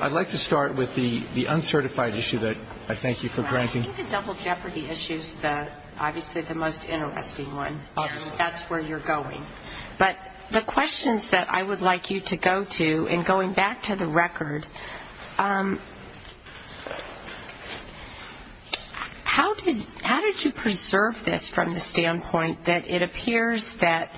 I would like to start with the uncertified issue that I thank you for granting. I think the double jeopardy issue is obviously the most interesting one. That's where you're going. But the questions that I would like you to go to, and going back to the record, how did you preserve this from the standpoint that it appears that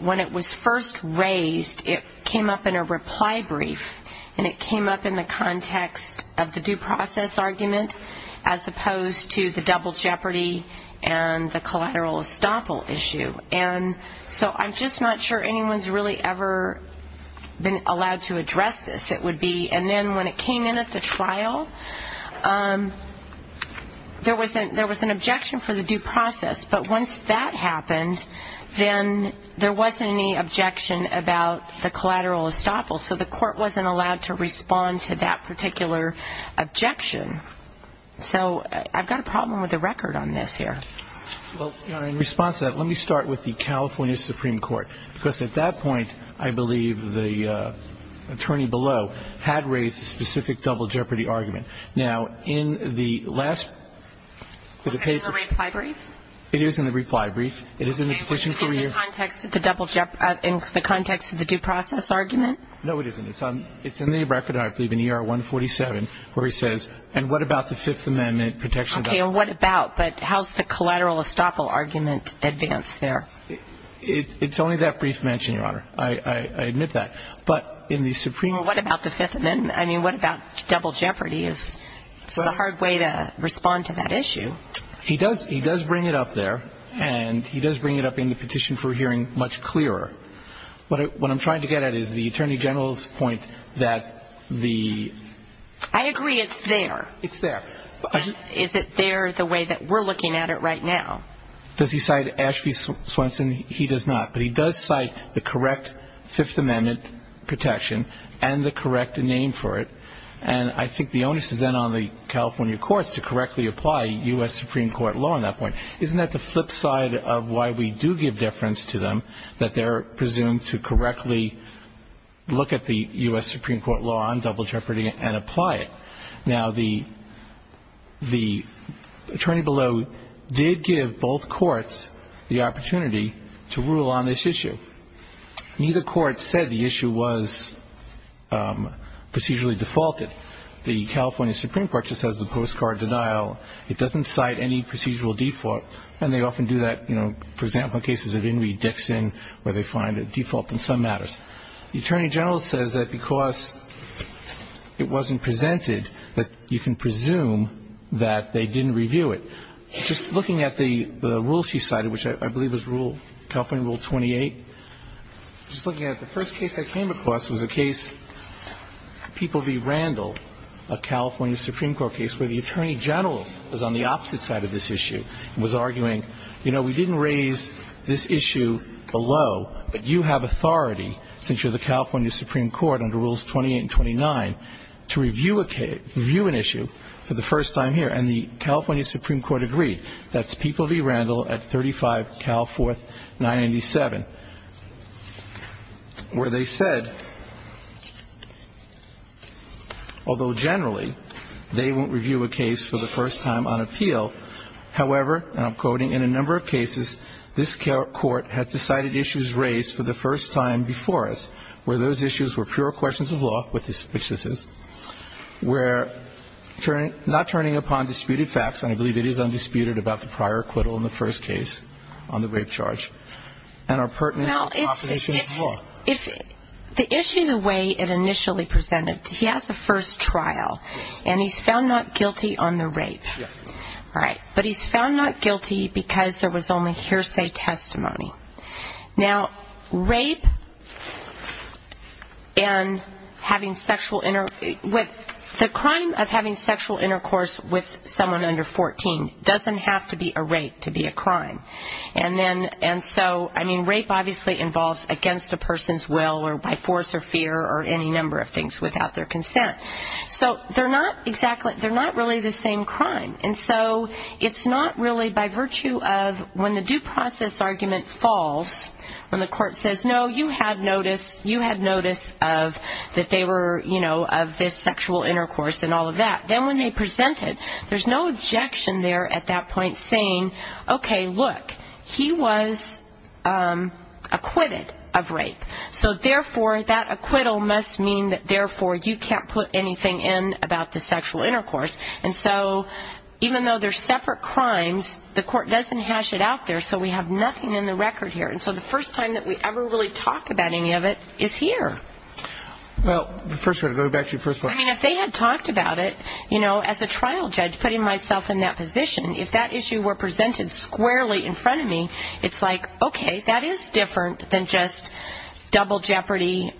when it was first raised, it came up in a reply brief, and it came up in the context of the due process argument, as opposed to the double jeopardy and the collateral estoppel issue? And so I'm just not sure anyone's really ever been allowed to address this, it would be. And then when it came in at the trial, there was an objection for the due process. But once that happened, then there wasn't any objection about the collateral estoppel. So the court wasn't allowed to respond to that particular objection. So I've got a problem with the record on this here. Well, in response to that, let me start with the California Supreme Court. Because at that point, I believe the attorney below had raised a specific double jeopardy argument. Now, in the last of the papers. Was it in the reply brief? It is in the reply brief. It is in the provision for your. In the context of the due process argument? No, it isn't. It's in the record, I believe, in ER 147, where he says, and what about the Fifth Amendment protection document? Okay, and what about? But how's the collateral estoppel argument advanced there? It's only that brief mention, Your Honor. I admit that. But in the Supreme Court. Well, what about the Fifth Amendment? I mean, what about double jeopardy? It's a hard way to respond to that issue. He does bring it up there. And he does bring it up in the petition for hearing much clearer. What I'm trying to get at is the Attorney General's point that the... I agree it's there. It's there. Is it there the way that we're looking at it right now? Does he cite Ashby Swenson? He does not. But he does cite the correct Fifth Amendment protection and the correct name for it. And I think the onus is then on the California courts to correctly apply U.S. Supreme Court law on that point. Isn't that the flip side of why we do give deference to them, that they're presumed to correctly look at the U.S. Supreme Court law on double jeopardy and apply it? Now, the attorney below did give both courts the opportunity to rule on this issue. Neither court said the issue was procedurally defaulted. The California Supreme Court just has the postcard denial. It doesn't cite any procedural default. And they often do that, you know, for example, in cases of Henry Dixon where they find a default in some matters. The attorney general says that because it wasn't presented that you can presume that they didn't review it. Just looking at the rule she cited, which I believe is California Rule 28, just looking at it, the first case I came across was a case, People v. Randall, a California Supreme Court case where the attorney general was on the opposite side of this issue and was arguing, you know, we didn't raise this issue below, but you have authority since you're the California Supreme Court under Rules 28 and 29 to review an issue for the first time here. And the California Supreme Court agreed. That's People v. Randall at 35 Cal 4th 997, where they said, although generally they won't review a case for the first time on appeal, however, and I'm quoting, in a number of cases this court has decided issues raised for the first time before us where those issues were pure questions of law, which this is, were not turning upon disputed facts, and I believe it is undisputed about the prior acquittal in the first case on the rape charge, and are pertinent to the proposition of law. Well, the issue, the way it initially presented, he has a first trial, and he's found not guilty on the rape. Right. But he's found not guilty because there was only hearsay testimony. Now, rape and having sexual, the crime of having sexual intercourse with someone under 14 doesn't have to be a rape to be a crime. And then, and so, I mean, rape obviously involves against a person's will or by force or fear or any number of things without their consent. So they're not exactly, they're not really the same crime. And so it's not really by virtue of when the due process argument falls, when the court says, no, you had notice, you had notice of, that they were, you know, of this sexual intercourse and all of that. Then when they presented, there's no objection there at that point saying, okay, look, he was acquitted of rape. So, therefore, that acquittal must mean that, therefore, you can't put anything in about the sexual intercourse. And so even though they're separate crimes, the court doesn't hash it out there, so we have nothing in the record here. And so the first time that we ever really talk about any of it is here. Well, first of all, going back to your first point. I mean, if they had talked about it, you know, as a trial judge, putting myself in that position, if that issue were presented squarely in front of me, it's like, okay, that is different than just double jeopardy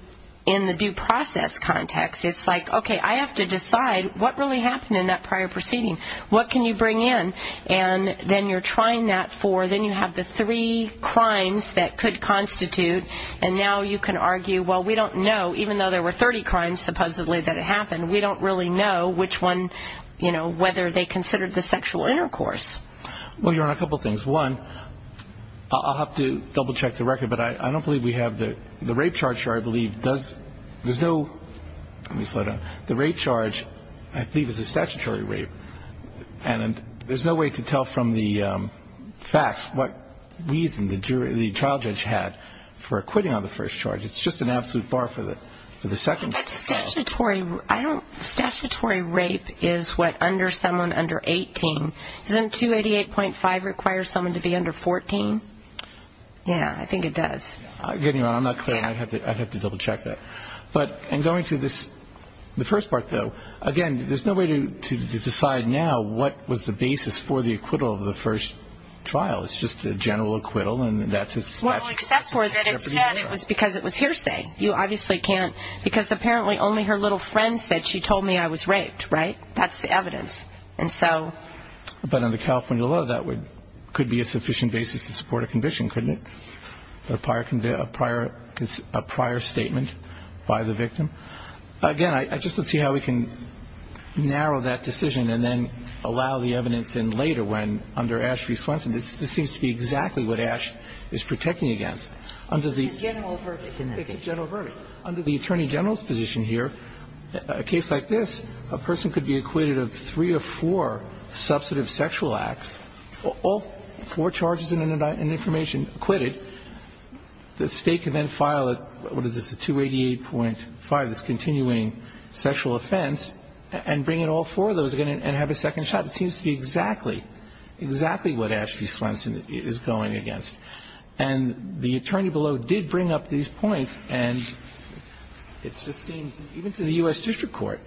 in the due process context. It's like, okay, I have to decide what really happened in that prior proceeding. What can you bring in? And then you're trying that for, then you have the three crimes that could constitute, and now you can argue, well, we don't know, even though there were 30 crimes supposedly that happened, we don't really know which one, you know, whether they considered the sexual intercourse. Well, you're on a couple things. One, I'll have to double check the record, but I don't believe we have the rape charge here. I believe there's no rape charge. I believe it's a statutory rape. And there's no way to tell from the facts what reason the trial judge had for quitting on the first charge. It's just an absolute bar for the second. But statutory rape is what under someone under 18. Doesn't 288.5 require someone to be under 14? Yeah, I think it does. Anyway, I'm not clear. I'd have to double check that. But in going through the first part, though, again, there's no way to decide now what was the basis for the acquittal of the first trial. It's just a general acquittal, and that's expected. Well, except for that it said it was because it was hearsay. You obviously can't, because apparently only her little friend said, she told me I was raped, right? That's the evidence. And so. But under California law, that could be a sufficient basis to support a conviction, couldn't it? A prior statement by the victim. Again, I just don't see how we can narrow that decision and then allow the evidence in later when, under Ashley Swenson, this seems to be exactly what Ash is protecting against. It's a general verdict. It's a general verdict. Under the Attorney General's position here, a case like this, a person could be acquitted of three or four substantive sexual acts, all four charges and information acquitted. The State can then file a, what is this, a 288.5, this continuing sexual offense, and bring in all four of those again and have a second shot. It seems to be exactly, exactly what Ashley Swenson is going against. And the attorney below did bring up these points, and it just seems, even to the U.S. District Court,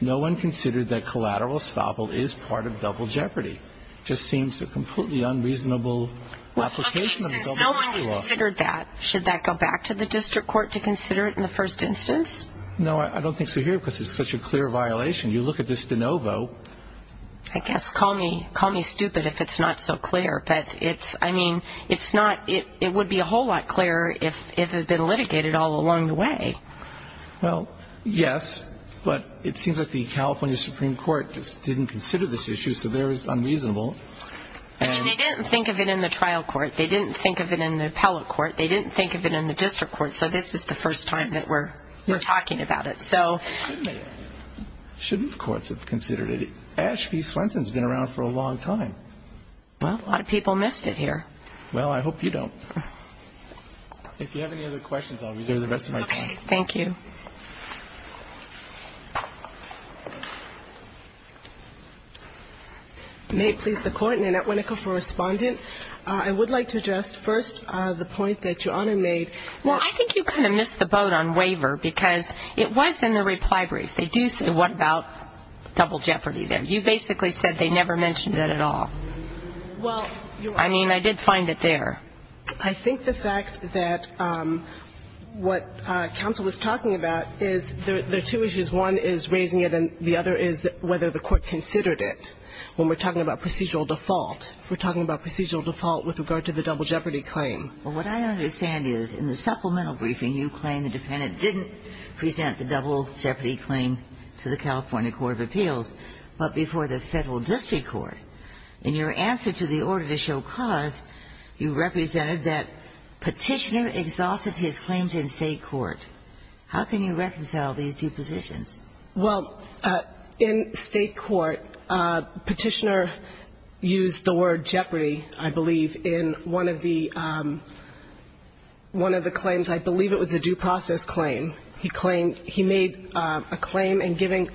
no one considered that collateral estoppel is part of double jeopardy. It just seems a completely unreasonable application of double jeopardy. Okay, since no one considered that, should that go back to the District Court to consider it in the first instance? No, I don't think so here because it's such a clear violation. You look at this de novo. I guess, call me stupid if it's not so clear. But it's, I mean, it's not, it would be a whole lot clearer if it had been litigated all along the way. Well, yes, but it seems like the California Supreme Court just didn't consider this issue, so there is unreasonable. I mean, they didn't think of it in the trial court. They didn't think of it in the appellate court. They didn't think of it in the District Court. So this is the first time that we're talking about it. Shouldn't courts have considered it? Ashley Swenson has been around for a long time. Well, a lot of people missed it here. Well, I hope you don't. If you have any other questions, I'll reserve the rest of my time. Okay, thank you. May it please the Court, Nanette Winnicke for Respondent. I would like to address first the point that Your Honor made. Now, I think you kind of missed the boat on waiver because it was in the reply brief. They do say, what about double jeopardy there? You basically said they never mentioned it at all. Well, Your Honor. I mean, I did find it there. I think the fact that what counsel was talking about is there are two issues. One is raising it, and the other is whether the court considered it. When we're talking about procedural default, we're talking about procedural default with regard to the double jeopardy claim. Well, what I understand is in the supplemental briefing, you claim the defendant didn't present the double jeopardy claim to the California court of appeals. But before the federal district court. In your answer to the order to show cause, you represented that Petitioner exhausted his claims in state court. How can you reconcile these two positions? Well, in state court, Petitioner used the word jeopardy, I believe, in one of the claims. I believe it was a due process claim. He made a claim in giving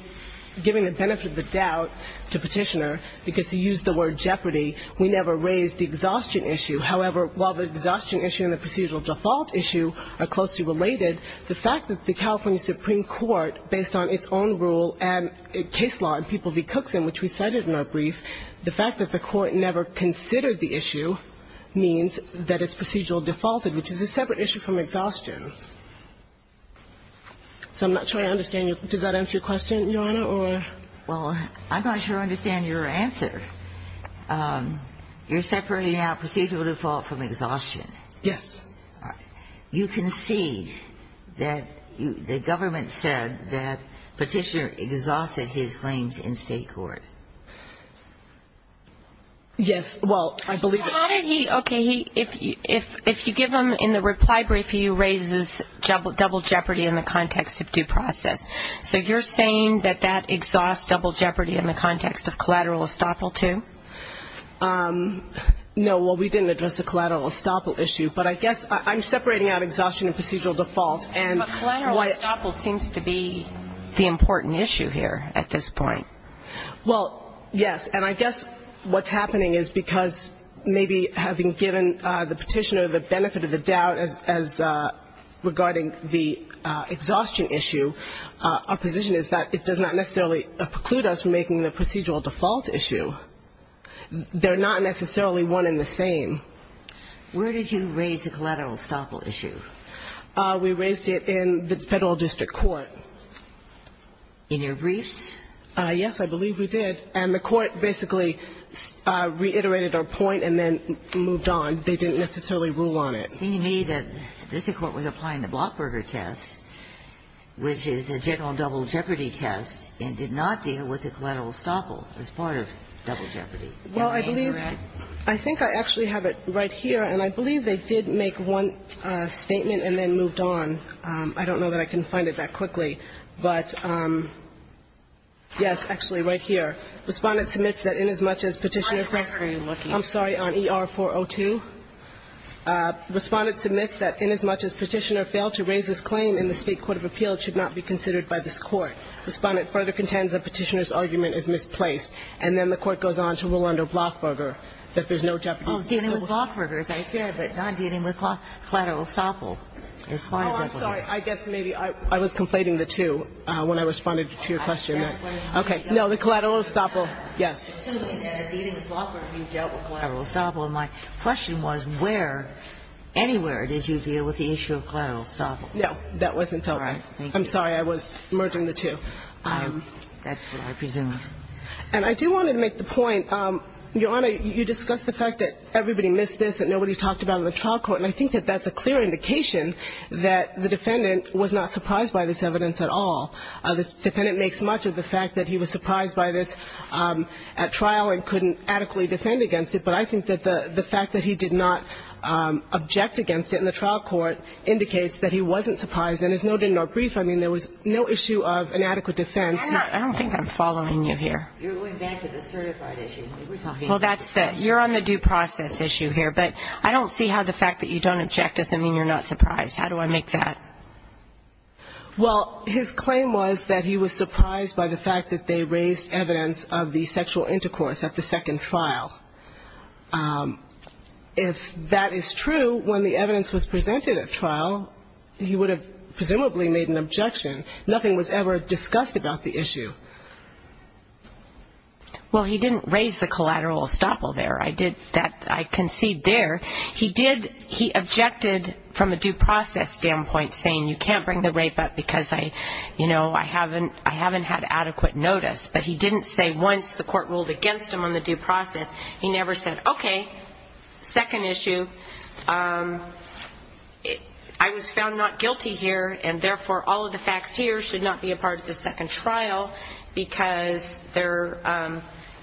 the benefit of the doubt to Petitioner because he used the word jeopardy. We never raised the exhaustion issue. However, while the exhaustion issue and the procedural default issue are closely related, the fact that the California Supreme Court, based on its own rule and case law in People v. Cookson, which we cited in our brief, the fact that the court never considered the issue So I'm not sure I understand. Does that answer your question, Your Honor, or? Well, I'm not sure I understand your answer. You're separating out procedural default from exhaustion. Yes. All right. You concede that the government said that Petitioner exhausted his claims in state court. Yes. Well, I believe that. Okay. If you give him in the reply brief, he raises double jeopardy in the context of due process. So you're saying that that exhausts double jeopardy in the context of collateral estoppel, too? No. Well, we didn't address the collateral estoppel issue. But I guess I'm separating out exhaustion and procedural default. But collateral estoppel seems to be the important issue here at this point. Well, yes. And I guess what's happening is because maybe having given the petitioner the benefit of the doubt as regarding the exhaustion issue, our position is that it does not necessarily preclude us from making the procedural default issue. They're not necessarily one and the same. Where did you raise the collateral estoppel issue? We raised it in the federal district court. In your briefs? Yes, I believe we did. And the court basically reiterated our point and then moved on. They didn't necessarily rule on it. It seemed to me that the district court was applying the Blockberger test, which is a general double jeopardy test, and did not deal with the collateral estoppel as part of double jeopardy. Am I incorrect? Well, I think I actually have it right here. And I believe they did make one statement and then moved on. I don't know that I can find it that quickly. But, yes, actually, right here. Respondent submits that inasmuch as Petitioner failed to raise this claim in the State Court of Appeal, it should not be considered by this Court. Respondent further contends that Petitioner's argument is misplaced. And then the Court goes on to rule under Blockberger that there's no jeopardy test. Well, dealing with Blockberger, as I said, but not dealing with collateral estoppel is part of double jeopardy. Oh, I'm sorry. I guess maybe I was conflating the two. When I responded to your question. Okay. No, the collateral estoppel. Yes. It seems to me that in dealing with Blockberger, you dealt with collateral estoppel. And my question was where, anywhere did you deal with the issue of collateral estoppel? No, that wasn't dealt with. I'm sorry. I was merging the two. That's what I presumed. And I do want to make the point, Your Honor, you discussed the fact that everybody missed this, that nobody talked about it in the trial court. And I think that that's a clear indication that the defendant was not surprised by this evidence at all. The defendant makes much of the fact that he was surprised by this at trial and couldn't adequately defend against it. But I think that the fact that he did not object against it in the trial court indicates that he wasn't surprised. And as noted in our brief, I mean, there was no issue of inadequate defense. Anna, I don't think I'm following you here. You're going back to the certified issue. We were talking about the certified. Well, that's the you're on the due process issue here. But I don't see how the fact that you don't object doesn't mean you're not surprised. How do I make that? Well, his claim was that he was surprised by the fact that they raised evidence of the sexual intercourse at the second trial. If that is true, when the evidence was presented at trial, he would have presumably made an objection. Nothing was ever discussed about the issue. Well, he didn't raise the collateral estoppel there. I did that. I concede there. But he did, he objected from a due process standpoint, saying you can't bring the rape up because, you know, I haven't had adequate notice. But he didn't say once the court ruled against him on the due process. He never said, okay, second issue, I was found not guilty here, and therefore all of the facts here should not be a part of the second trial because they're,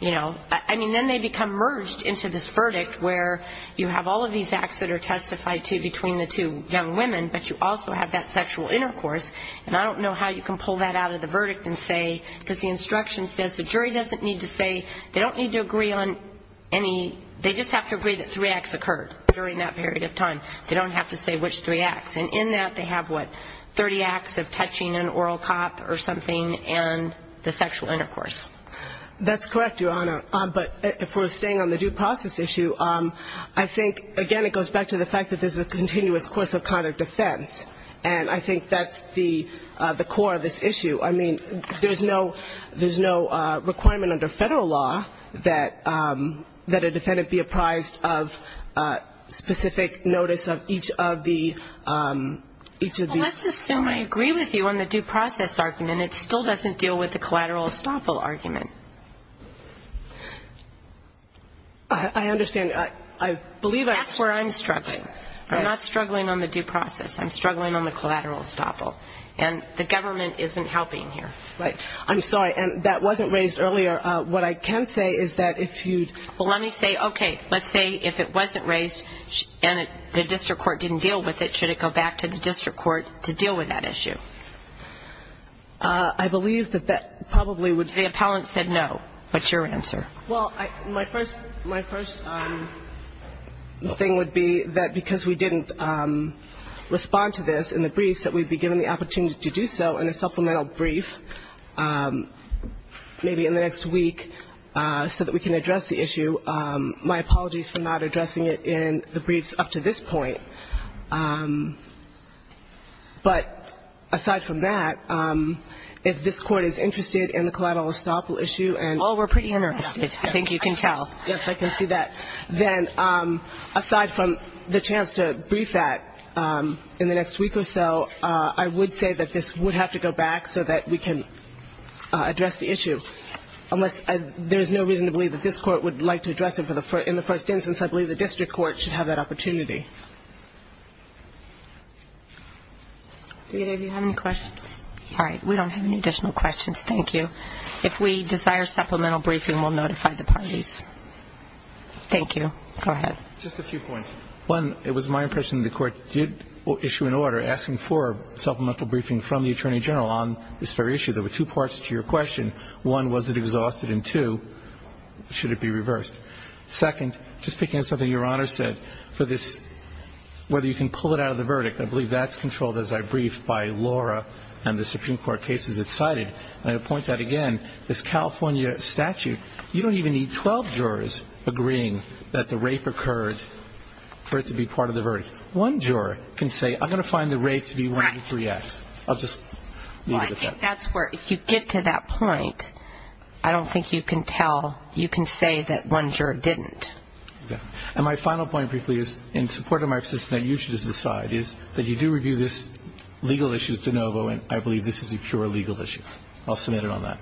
you know. I mean, then they become merged into this verdict where you have all of these acts that are testified to between the two young women, but you also have that sexual intercourse. And I don't know how you can pull that out of the verdict and say, because the instruction says the jury doesn't need to say, they don't need to agree on any, they just have to agree that three acts occurred during that period of time. They don't have to say which three acts. And in that they have, what, 30 acts of touching an oral cop or something and the sexual intercourse. That's correct, Your Honor. But if we're staying on the due process issue, I think, again, it goes back to the fact that there's a continuous course of conduct defense. And I think that's the core of this issue. I mean, there's no requirement under Federal law that a defendant be apprised of specific notice of each of the... Well, let's assume I agree with you on the due process argument. And it still doesn't deal with the collateral estoppel argument. I understand. I believe I... That's where I'm struggling. I'm not struggling on the due process. I'm struggling on the collateral estoppel. And the government isn't helping here. Right. I'm sorry. And that wasn't raised earlier. What I can say is that if you... Well, let me say, okay, let's say if it wasn't raised and the district court didn't deal with it, should it go back to the district court to deal with that issue? I believe that that probably would... The appellant said no. What's your answer? Well, my first thing would be that because we didn't respond to this in the briefs, that we'd be given the opportunity to do so in a supplemental brief, maybe in the next week, so that we can address the issue. My apologies for not addressing it in the briefs up to this point. But aside from that, if this Court is interested in the collateral estoppel issue and... Oh, we're pretty interested. Yes. I think you can tell. Yes, I can see that. Then aside from the chance to brief that in the next week or so, I would say that this would have to go back so that we can address the issue, unless there's no reason to believe that this Court would like to address it in the first instance. I believe the district court should have that opportunity. Rita, do you have any questions? All right. We don't have any additional questions. Thank you. If we desire supplemental briefing, we'll notify the parties. Thank you. Go ahead. Just a few points. One, it was my impression that the Court did issue an order asking for supplemental briefing from the Attorney General on this very issue. There were two parts to your question. One, was it exhausted? And two, should it be reversed? Second, just picking on something Your Honor said for this, whether you can pull it out of the verdict. I believe that's controlled, as I briefed, by Laura and the Supreme Court cases it cited. And I would point out again, this California statute, you don't even need 12 jurors agreeing that the rape occurred for it to be part of the verdict. One juror can say, I'm going to find the rape to be 103X. Right. I'll just leave it at that. I think that's where, if you get to that point, I don't think you can tell, you can say that one juror didn't. And my final point briefly is, in support of my position that you should just decide, is that you do review this legal issue as de novo, and I believe this is a pure legal issue. I'll submit it on that.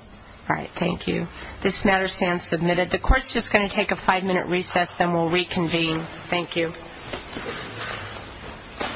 All right. Thank you. This matter stands submitted. The Court's just going to take a five-minute recess, then we'll reconvene. Thank you.